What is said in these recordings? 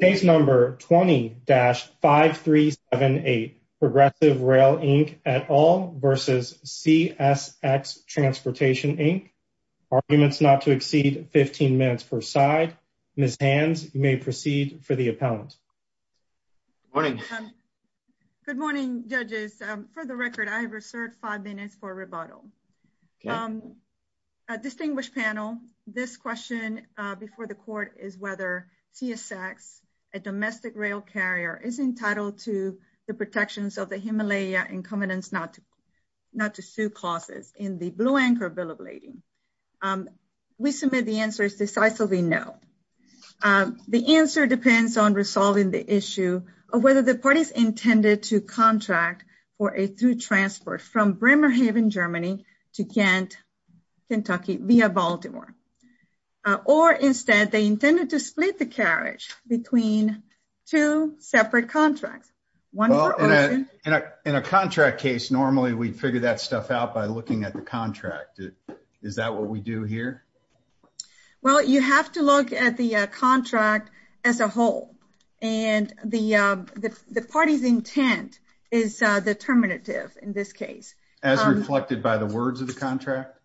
Case number 20-5378, Progressive Rail Inc at all versus CSX Transportation Inc. Arguments not to exceed 15 minutes per side. Ms. Hands, you may proceed for the appellant. Good morning. Good morning, judges. For the record, I have reserved five minutes for rebuttal. Okay. Distinguished panel, this question before the court is whether CSX, a domestic rail carrier, is entitled to the protections of the Himalaya incumbent not to sue clauses in the Blue Anchor Bill of Lading. We submit the answer is decisively no. The answer depends on resolving the issue of whether the parties intended to contract for a through transport from Bremerhaven, Germany to Kent, Kentucky via Baltimore. Or instead, they intended to split the carriage between two separate contracts. In a contract case, normally we'd figure that stuff out by looking at the contract. Is that what we do here? Well, you have to look at the contract as a whole and the party's intent is determinative in this case. As reflected by the words of the contract?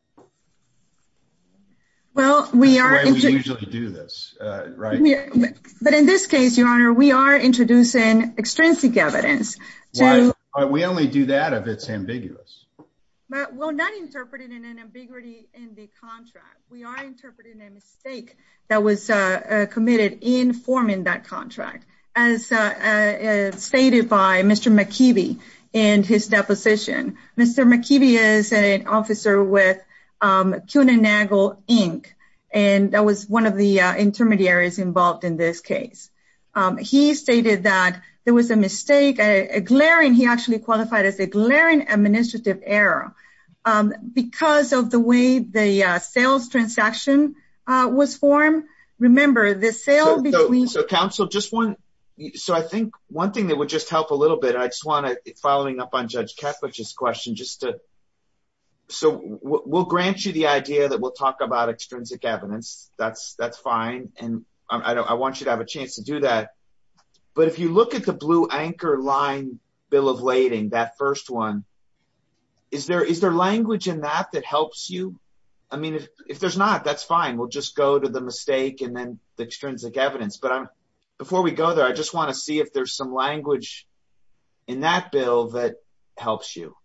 Well, we are usually do this, right? But in this case, Your Honor, we are introducing extrinsic evidence. Why? We only do that if it's ambiguous. But we're not interpreting an ambiguity in the contract. We are interpreting a mistake that was committed in forming that contract. As stated by Mr. McKeevy in his deposition. Mr. McKeevy is an officer with CUNANAGLE, Inc. And that was one of the intermediaries involved in this case. He stated that there was a mistake, a glaring, he actually qualified as a glaring administrative error because of the way the sales transaction was formed. Remember, the sale between- Counsel, I think one thing that would just help a little bit, I just want to, following up on Judge Ketlich's question, we'll grant you the idea that we'll talk about extrinsic evidence. That's fine. And I want you to have a chance to do that. But if you look at the blue anchor line bill of lading, that first one, is there language in that that helps you? I mean, if there's not, that's fine. We'll just go to the mistake and then the extrinsic evidence. Before we go there, I just want to see if there's some language in that bill that helps you.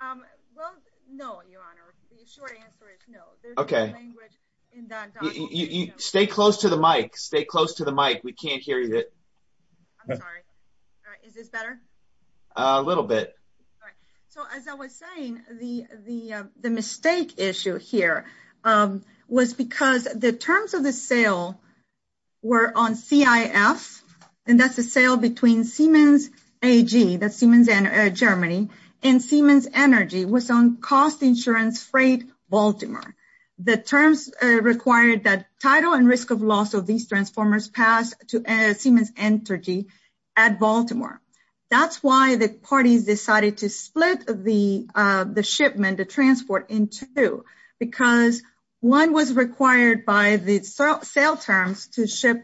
Well, no, your honor. The short answer is no. Okay. Stay close to the mic. Stay close to the mic. We can't hear you. I'm sorry. Is this better? A little bit. So as I was saying, the mistake issue here was because the terms of the sale were on CIF, and that's a sale between Siemens AG, that's Siemens Germany, and Siemens Energy, was on cost insurance freight Baltimore. The terms required that title and risk of loss of these transformers pass to Siemens Energy at Baltimore. That's why the parties decided to ship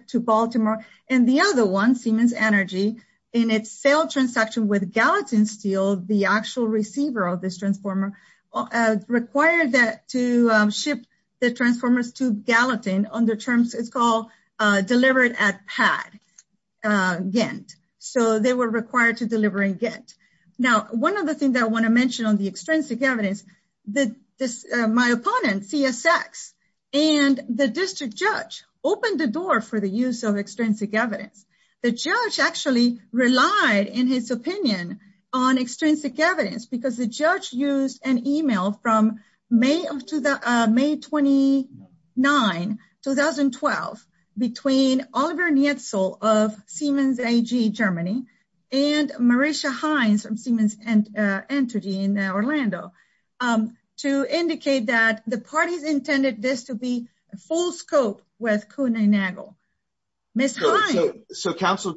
to Baltimore. And the other one, Siemens Energy, in its sale transaction with Gallatin Steel, the actual receiver of this transformer, required that to ship the transformers to Gallatin on the terms it's called delivered at PAD, Gantt. So they were required to deliver in Gantt. Now, one other thing that I want to mention on the extrinsic evidence, my opponent, CSX, and the district judge opened the door for the use of extrinsic evidence. The judge actually relied, in his opinion, on extrinsic evidence because the judge used an email from May 29, 2012, between Oliver Nietzschel of Siemens AG, Germany, and Marisha Hines from Siemens Energy in Orlando, to indicate that the parties intended this to be full scope with Kuhn and Nagel. Ms. Hines. So, counsel,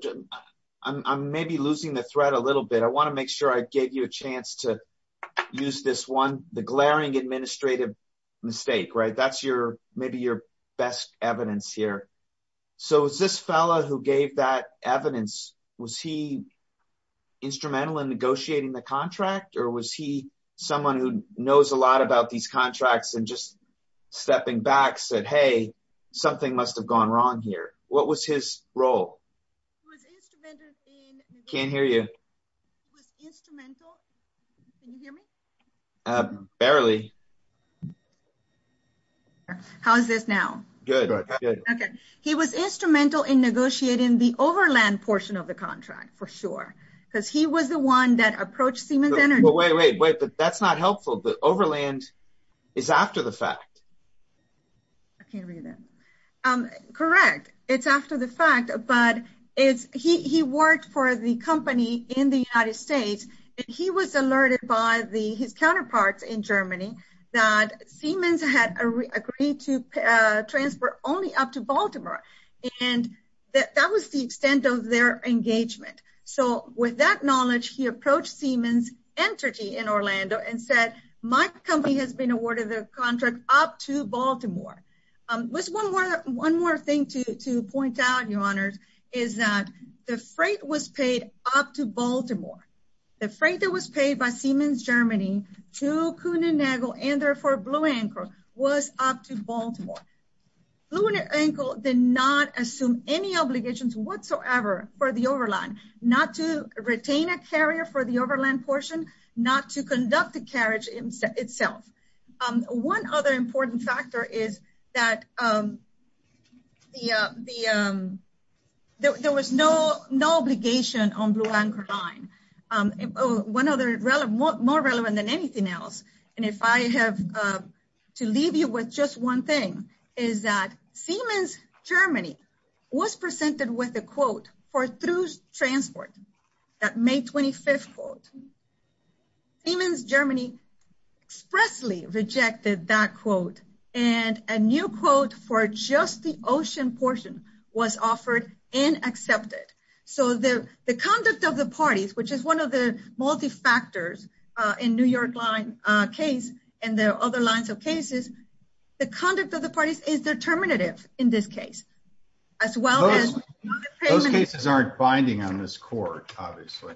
I'm maybe losing the thread a little bit. I want to make sure I gave you a chance to use this one, the glaring administrative mistake, right? That's your, maybe your best evidence here. So is this fella who gave that evidence, was he instrumental in negotiating the contract, or was he someone who knows a lot about these contracts and just stepping back said, hey, something must have gone wrong here? What was his role? Can't hear you. Barely. How's this now? Good. Okay. He was instrumental in negotiating the overland portion of the contract, for sure, because he was the one that approached Siemens Energy. Wait, wait, wait, but that's not helpful. The overland is after the fact. I can't read that. Correct. It's after the fact, but he worked for the company in the United States, and he was alerted by his counterparts in Germany that Siemens had agreed to transfer only up to the extent of their engagement. So with that knowledge, he approached Siemens Energy in Orlando and said, my company has been awarded their contract up to Baltimore. There's one more thing to point out, your honors, is that the freight was paid up to Baltimore. The freight that was paid by Siemens Germany to Cunenegal and therefore Blue Ankle was up to Baltimore. Blue Ankle did not assume any obligations whatsoever for the overland, not to retain a carrier for the overland portion, not to conduct the carriage itself. One other important factor is that there was no obligation on Blue Ankle line. One other more relevant than anything else, and if I have to leave you with just one thing, is that Siemens Germany was presented with a quote for through transport, that May 25th quote. Siemens Germany expressly rejected that quote, and a new quote for just the ocean portion was offered and accepted. So the conduct of the parties, which is one of the multifactors in New York line case and the other lines of cases, the conduct of the parties is determinative in this case, as well as- Those cases aren't binding on this court, obviously.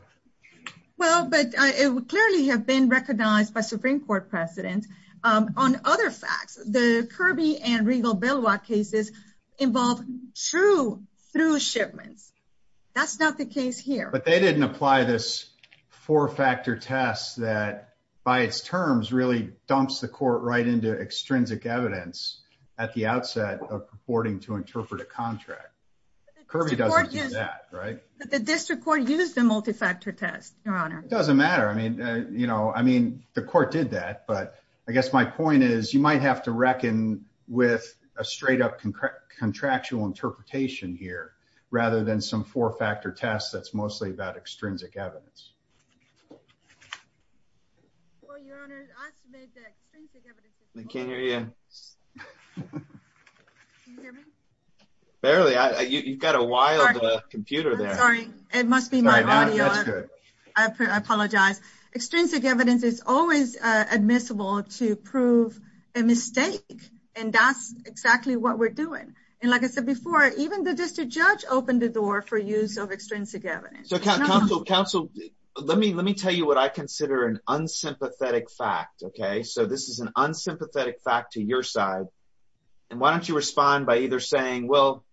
Well, but it would clearly have been recognized by Supreme Court precedent on other facts. The Kirby and Regal-Beloit cases involve true through shipments. That's not the case here. But they didn't apply this four-factor test that by its terms really dumps the court right into extrinsic evidence at the outset of purporting to interpret a contract. Kirby doesn't do that, right? Doesn't matter. I mean, the court did that, but I guess my point is you might have to reckon with a straight up contractual interpretation here, rather than some four-factor test that's mostly about extrinsic evidence. Well, Your Honor, I made the extrinsic evidence- I can't hear you. Can you hear me? Barely. You've got a wild computer there. It must be my audio. I apologize. Extrinsic evidence is always admissible to prove a mistake, and that's exactly what we're doing. And like I said before, even the district judge opened the door for use of extrinsic evidence. Counsel, let me tell you what I consider an unsympathetic fact, okay? So this is an unsympathetic fact to your side. And why don't you respond by either saying, well,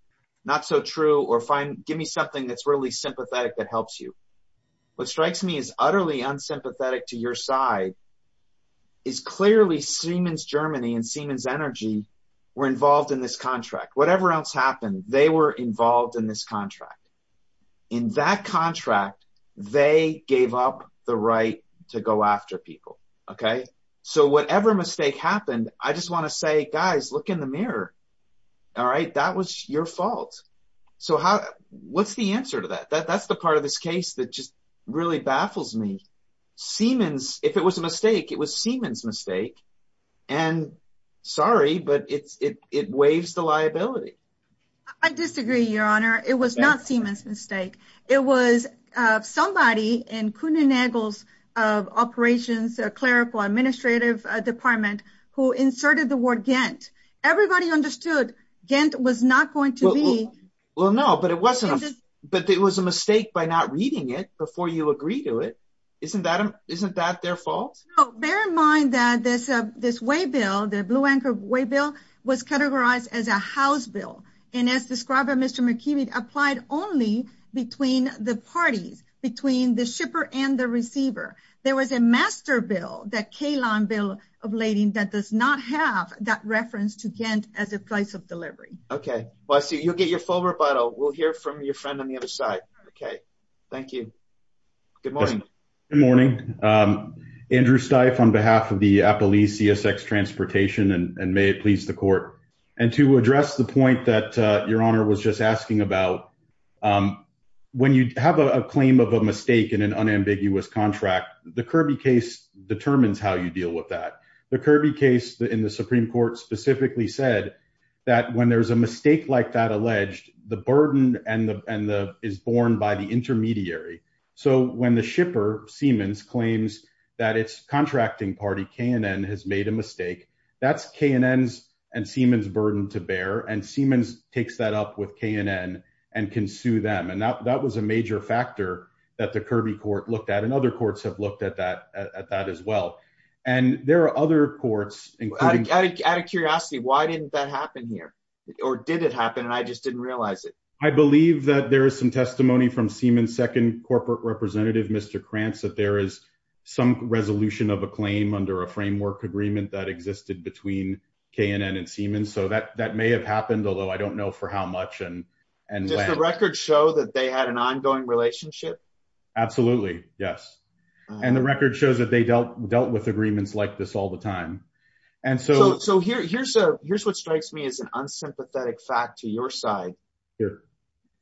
not so true, or give me something that's really sympathetic that helps you. What strikes me as utterly unsympathetic to your side is clearly Siemens Germany and Siemens Energy were involved in this contract. Whatever else happened, they were involved in this contract. In that contract, they gave up the right to go after people, okay? So whatever mistake happened, I just want to say, guys, look in the mirror, all right? That was your fault. So what's the answer to that? That's the part of this case that just really baffles me. Siemens, if it was a mistake, it was Siemens' mistake. And sorry, but it waives the liability. I disagree, Your Honor. It was not Siemens' mistake. It was somebody in Kuhn and Eggles of Operations, a clerical administrative department, who inserted the word Ghent. Everybody understood Ghent was not going to be- Well, no, but it was a mistake by not reading it before you agree to it. Isn't that their fault? No. Bear in mind that this way bill, the Blue Anchor Way Bill, was categorized as a house bill. And as described by Mr. McKibbin, applied only between the parties, between the shipper and the bill of lading that does not have that reference to Ghent as a price of delivery. Okay. Well, I see you'll get your full rebuttal. We'll hear from your friend on the other side. Okay. Thank you. Good morning. Good morning. Andrew Steiff on behalf of the Appalese CSX Transportation, and may it please the Court. And to address the point that Your Honor was just asking about, when you have a deal with that, the Kirby case in the Supreme Court specifically said that when there's a mistake like that alleged, the burden is borne by the intermediary. So when the shipper, Siemens, claims that its contracting party, K&N, has made a mistake, that's K&N's and Siemens' burden to bear. And Siemens takes that up with K&N and can sue them. And that was a major factor that the and there are other courts. Out of curiosity, why didn't that happen here? Or did it happen? And I just didn't realize it. I believe that there is some testimony from Siemens' second corporate representative, Mr. Krantz, that there is some resolution of a claim under a framework agreement that existed between K&N and Siemens. So that may have happened, although I don't know for how much and when. Does the record show that they had an ongoing relationship? Absolutely, yes. And the record shows that they dealt with agreements like this all the time. And so here's what strikes me as an unsympathetic fact to your side.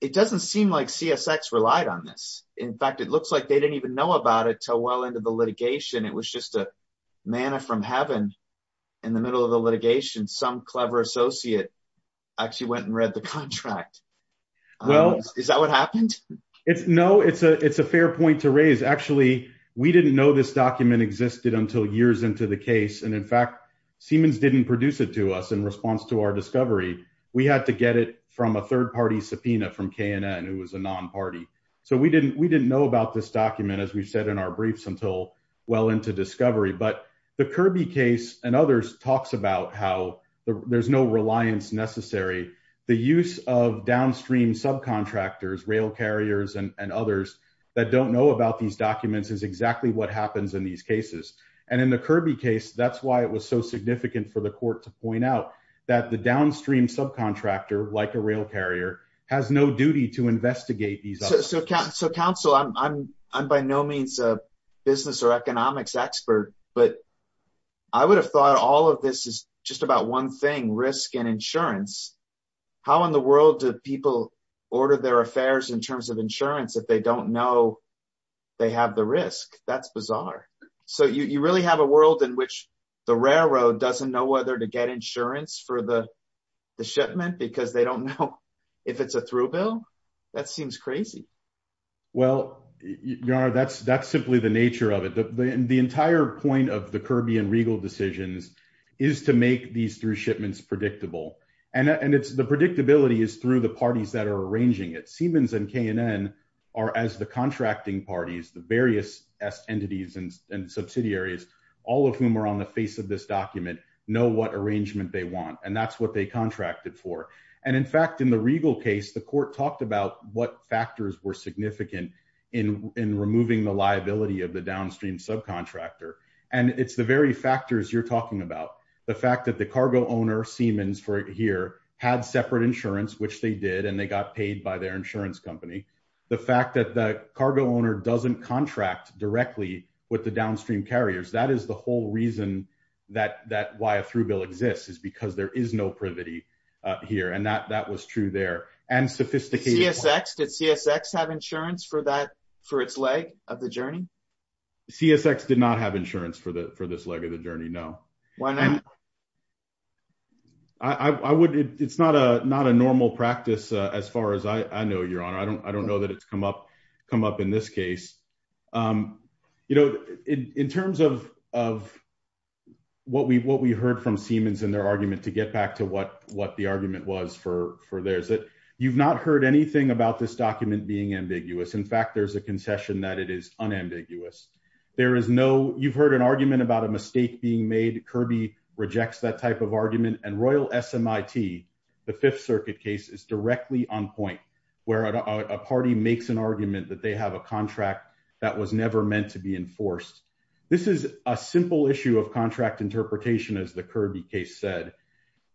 It doesn't seem like CSX relied on this. In fact, it looks like they didn't even know about it until well into the litigation. It was just a manna from heaven. In the middle of the litigation, some clever associate actually went and read the contract. Is that what happened? No, it's a fair point to raise. Actually, we didn't know this document existed until years into the case. And in fact, Siemens didn't produce it to us in response to our discovery. We had to get it from a third-party subpoena from K&N, who was a non-party. So we didn't know about this document, as we've said in our briefs, until well into discovery. But the Kirby case and others talks about how there's no reliance necessary. The use of downstream subcontractors, rail carriers and others that don't know about these documents is exactly what happens in these cases. And in the Kirby case, that's why it was so significant for the court to point out that the downstream subcontractor, like a rail carrier, has no duty to investigate these. So counsel, I'm by no means a business or economics expert, but I would have thought all of this is just about one thing, risk and insurance. How in the world do people order their affairs in terms of insurance if they don't know they have the risk? That's bizarre. So you really have a world in which the railroad doesn't know whether to get insurance for the shipment because they don't know if it's a through bill? That seems crazy. Well, your honor, that's simply the nature of it. The entire point of the Kirby and Regal decisions is to make these through shipments predictable. And it's the predictability is through the parties that are arranging it. Siemens and K&N are as the contracting parties, the various entities and subsidiaries, all of whom are on the face of this document, know what arrangement they want. And that's what they contracted for. And in fact, in the Regal case, the court talked about what factors were significant in removing the liability of the downstream subcontractor. And it's the very factors you're talking about. The fact that the cargo owner, Siemens, for here had separate insurance, which they did, and they got paid by their insurance company. The fact that the cargo owner doesn't contract directly with the downstream carriers. That is the whole reason that why a through bill exists is because there is no privity here. And that was true there. And sophisticated. CSX, did CSX have insurance for that, for its leg of the journey? CSX did not have insurance for the, for this leg of the journey. No. Why not? I would, it's not a, not a normal practice. As far as I know, your honor, I don't, I don't know that it's come up, come up in this case. You know, in terms of, of what we, what we heard from for there's that you've not heard anything about this document being ambiguous. In fact, there's a concession that it is unambiguous. There is no, you've heard an argument about a mistake being made. Kirby rejects that type of argument and Royal SMIT, the fifth circuit case is directly on point where a party makes an argument that they have a contract that was never meant to be enforced. This is a simple issue of contract interpretation. As the Kirby case said,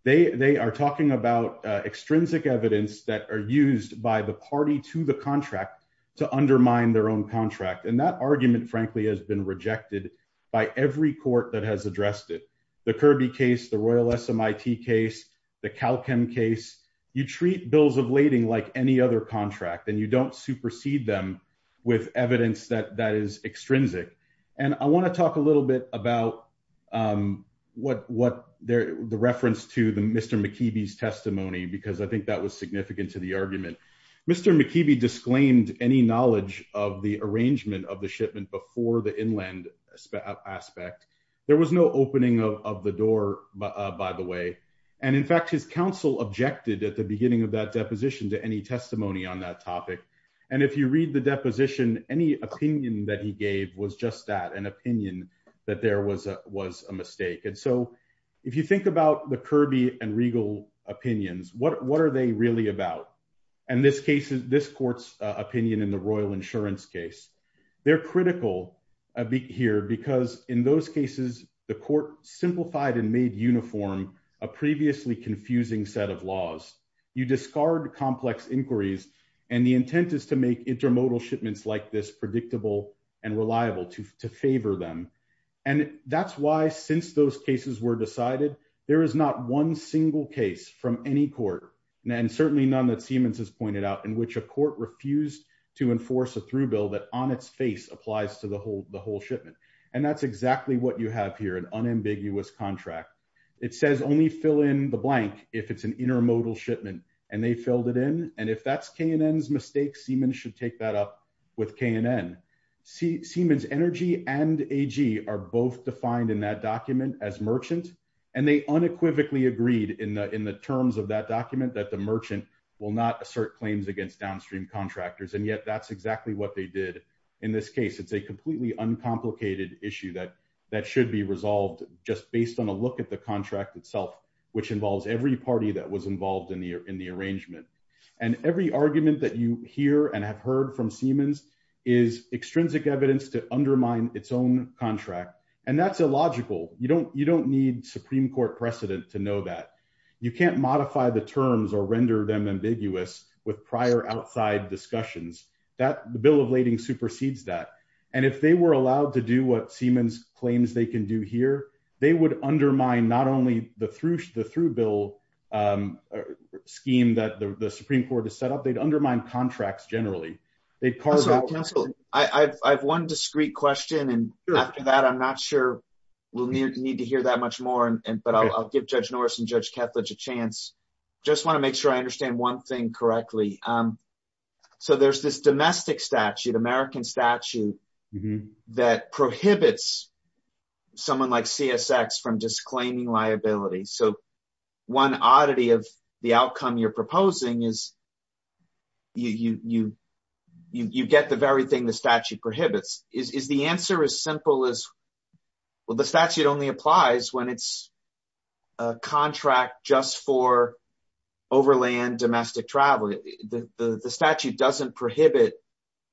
they, they are talking about extrinsic evidence that are used by the party to the contract to undermine their own contract. And that argument frankly, has been rejected by every court that has addressed it. The Kirby case, the Royal SMIT case, the Calchem case, you treat bills of lading like any other contract and you don't supersede them with evidence that, that is extrinsic. And I want to talk a little bit about what, what the reference to the Mr. McKeeby's testimony, because I think that was significant to the argument. Mr. McKeeby disclaimed any knowledge of the arrangement of the shipment before the inland aspect. There was no opening of the door by the way. And in fact, his counsel objected at the beginning of that deposition to any testimony on that topic. And if you read the was a mistake. And so if you think about the Kirby and Regal opinions, what, what are they really about? And this case is this court's opinion in the Royal insurance case. They're critical a bit here because in those cases, the court simplified and made uniform a previously confusing set of laws. You discard complex inquiries and the intent is to make intermodal shipments like this predictable and reliable to, to favor them. And that's why, since those cases were decided, there is not one single case from any court. And certainly none that Siemens has pointed out in which a court refused to enforce a through bill that on its face applies to the whole, the whole shipment. And that's exactly what you have here. An unambiguous contract. It says only fill in the blank if it's an intermodal shipment and they filled it in. And if that's K&N's mistake, Siemens should take that up with K&N. Siemens energy and AG are both defined in that document as merchant. And they unequivocally agreed in the, in the terms of that document that the merchant will not assert claims against downstream contractors. And yet that's exactly what they did in this case. It's a completely uncomplicated issue that, that should be resolved just based on a look at the contract itself, which involves every party that was every argument that you hear and have heard from Siemens is extrinsic evidence to undermine its own contract. And that's illogical. You don't, you don't need Supreme court precedent to know that you can't modify the terms or render them ambiguous with prior outside discussions. That the bill of lading supersedes that. And if they were allowed to do what Siemens claims they can do here, they would undermine not only the thrush, the through bill scheme that the Supreme court has set up, they'd undermine contracts generally. They'd carve out. I have one discreet question. And after that, I'm not sure we'll need to hear that much more and, but I'll give judge Norris and judge Ketledge a chance. Just want to make sure I understand one thing correctly. So there's this domestic statute, American statute that prohibits someone like CSX from disclaiming liability. So one oddity of the outcome you're proposing is you, you, you, you, you get the very thing. The statute prohibits is the answer as simple as, well, the statute only applies when it's a contract just for overland domestic travel. The statute doesn't prohibit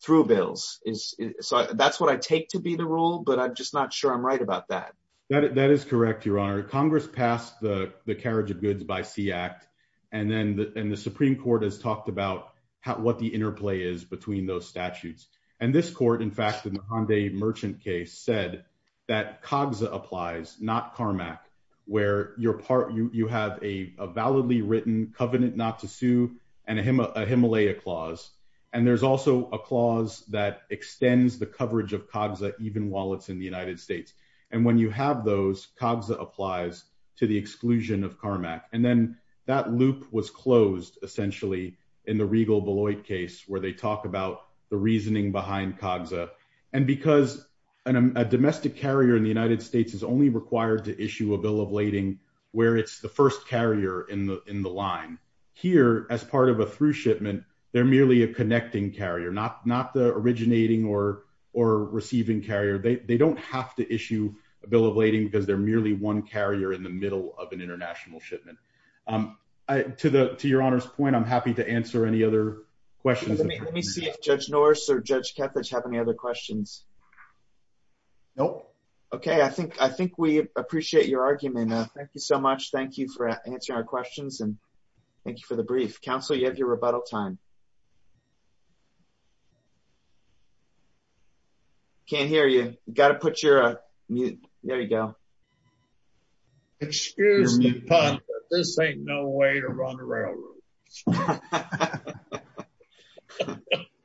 through bills is so that's what I take to be the rule, but I'm just not sure I'm right about that. That is correct. Your honor Congress passed the carriage of goods by sea act. And then the, and the Supreme court has talked about how, what the interplay is between those statutes. And this court, in fact, in the Hyundai merchant case said that COGSA applies, not Carmack, where you're part, you have a validly written covenant, not to sue and a Him, a Himalaya clause. And there's also a clause that extends the coverage of COGSA, even while it's in the United States. And when you have those COGSA applies to the exclusion of Carmack. And then that loop was closed essentially in the Regal Beloit case, where they talk about the reasoning behind COGSA. And because a domestic carrier in the United States is only required to issue a bill of lading where it's the first carrier in the, in the line here as part of a through shipment, they're merely a connecting carrier, not, not the originating or, or receiving carrier. They don't have to issue a bill of lading because they're merely one carrier in the middle of an international shipment to the, to your honor's I'm happy to answer any other questions. Let me see if judge Norris or judge Kethledge have any other questions. Nope. Okay. I think, I think we appreciate your argument. Thank you so much. Thank you for answering our questions and thank you for the brief council. You have your rebuttal time. Can't hear you. You got to put your mute. There you go. Excuse me, but this ain't no way to run the railroad.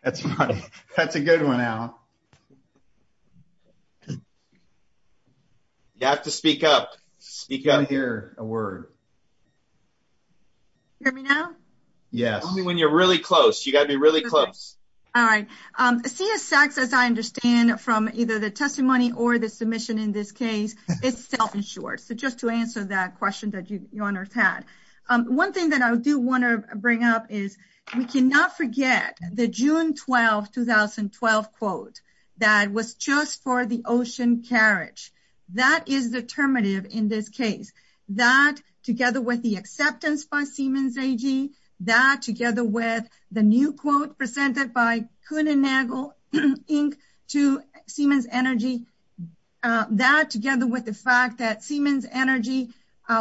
That's funny. That's a good one, Al. You have to speak up. Speak up. I can't hear a word. Hear me now? Yes. Only when you're really close. You got to be really close. All right. CSX, as I understand from either the testimony or the submission in this case, it's self-insured. So just to answer that question that your honor's had, one thing that I do want to bring up is we cannot forget the June 12, 2012 quote that was just for the ocean carriage. That is determinative in this case, that together with the acceptance by Siemens AG, that together with the new quote presented by Kuhn and Nagel, Inc. to Siemens Energy, that together with the fact that Siemens Energy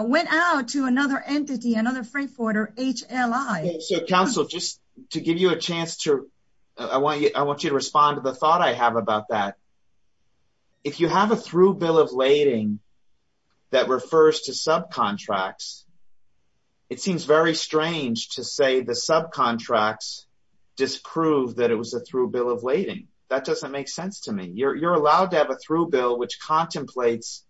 went out to another entity, another freight forwarder, HLI. So council, just to give you a chance to, I want you to respond to the thought I have about that. If you have a through bill of lading that refers to subcontracts, it seems very strange to say the subcontracts prove that it was a through bill of lading. That doesn't make sense to me. You're allowed to have a through bill which contemplates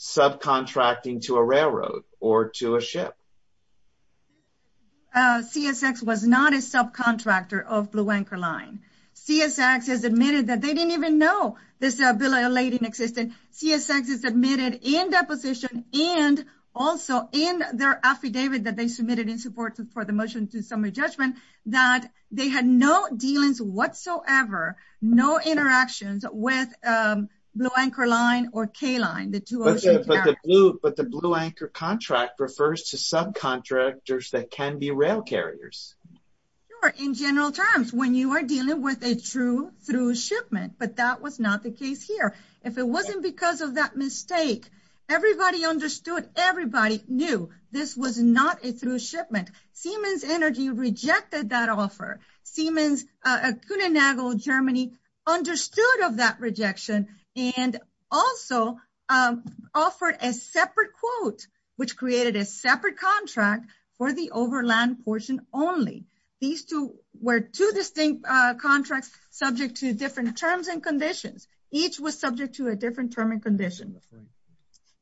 subcontracting to a railroad or to a ship. CSX was not a subcontractor of Blue Anchor Line. CSX has admitted that they didn't even know this bill of lading existed. CSX has admitted in deposition and also in their affidavit that submitted in support for the motion to summary judgment, that they had no dealings whatsoever, no interactions with Blue Anchor Line or K-Line. But the Blue Anchor contract refers to subcontractors that can be rail carriers. In general terms, when you are dealing with a true through shipment, but that was not the case here. If it wasn't because of that mistake, everybody understood, everybody knew this was not a through shipment. Siemens Energy rejected that offer. Siemens, Kuhn & Nagel Germany understood of that rejection and also offered a separate quote which created a separate contract for the overland portion only. These two were two distinct contracts subject to different terms and conditions. Each was subject to a different term condition.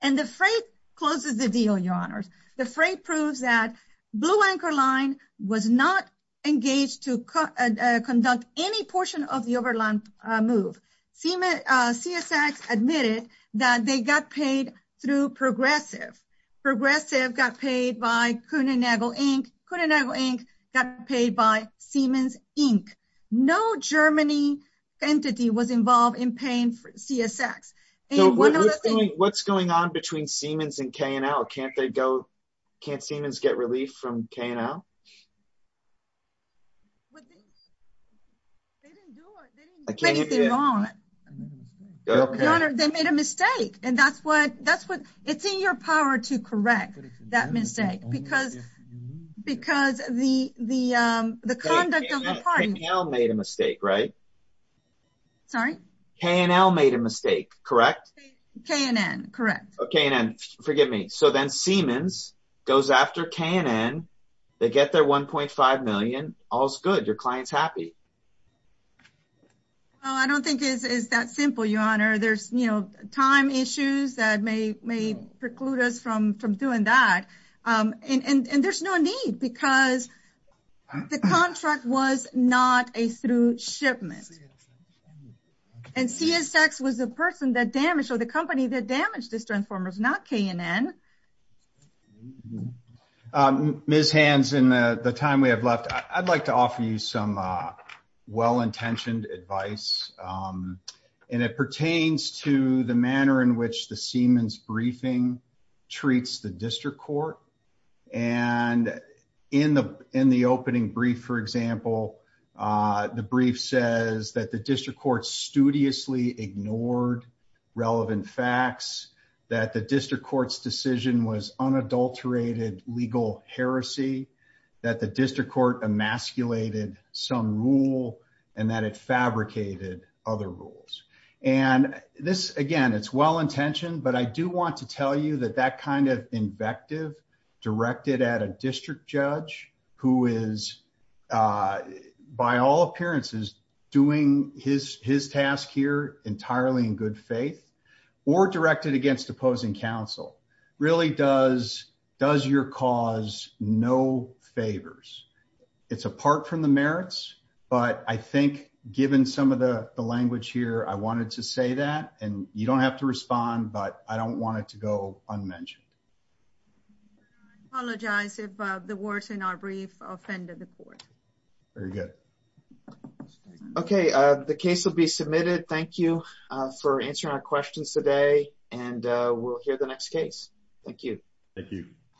And the freight closes the deal, your honors. The freight proves that Blue Anchor Line was not engaged to conduct any portion of the overland move. CSX admitted that they got paid through Progressive. Progressive got paid by Kuhn & Nagel Inc. Kuhn & Nagel Inc. got paid by what's going on between Siemens and K&L. Can't Siemens get relief from K&L? They made a mistake and that's what, it's in your power to correct that mistake because the conduct of the party. K&L made a mistake, right? K&N, correct. K&N, forgive me. So then Siemens goes after K&N, they get their $1.5 million, all's good, your client's happy. I don't think it's that simple, your honor. There's time issues that may preclude us from doing that and there's no need because the contract was not a through the company that damaged this transformers, not K&N. Ms. Hands, in the time we have left, I'd like to offer you some well-intentioned advice and it pertains to the manner in which the Siemens briefing treats the district court. And in the opening brief, for example, the brief says that the district court studiously ignored relevant facts, that the district court's decision was unadulterated legal heresy, that the district court emasculated some rule, and that it fabricated other rules. And this, again, it's well-intentioned, but I do want to tell you that that kind of invective directed at a district judge who is by all appearances doing his task here entirely in good faith or directed against opposing counsel really does your cause no favors. It's apart from the merits, but I think given some of the language here, I wanted to say that and you don't have to respond, but I don't want it to go in our brief offender report. Very good. Okay, the case will be submitted. Thank you for answering our questions today and we'll hear the next case. Thank you. Thank you.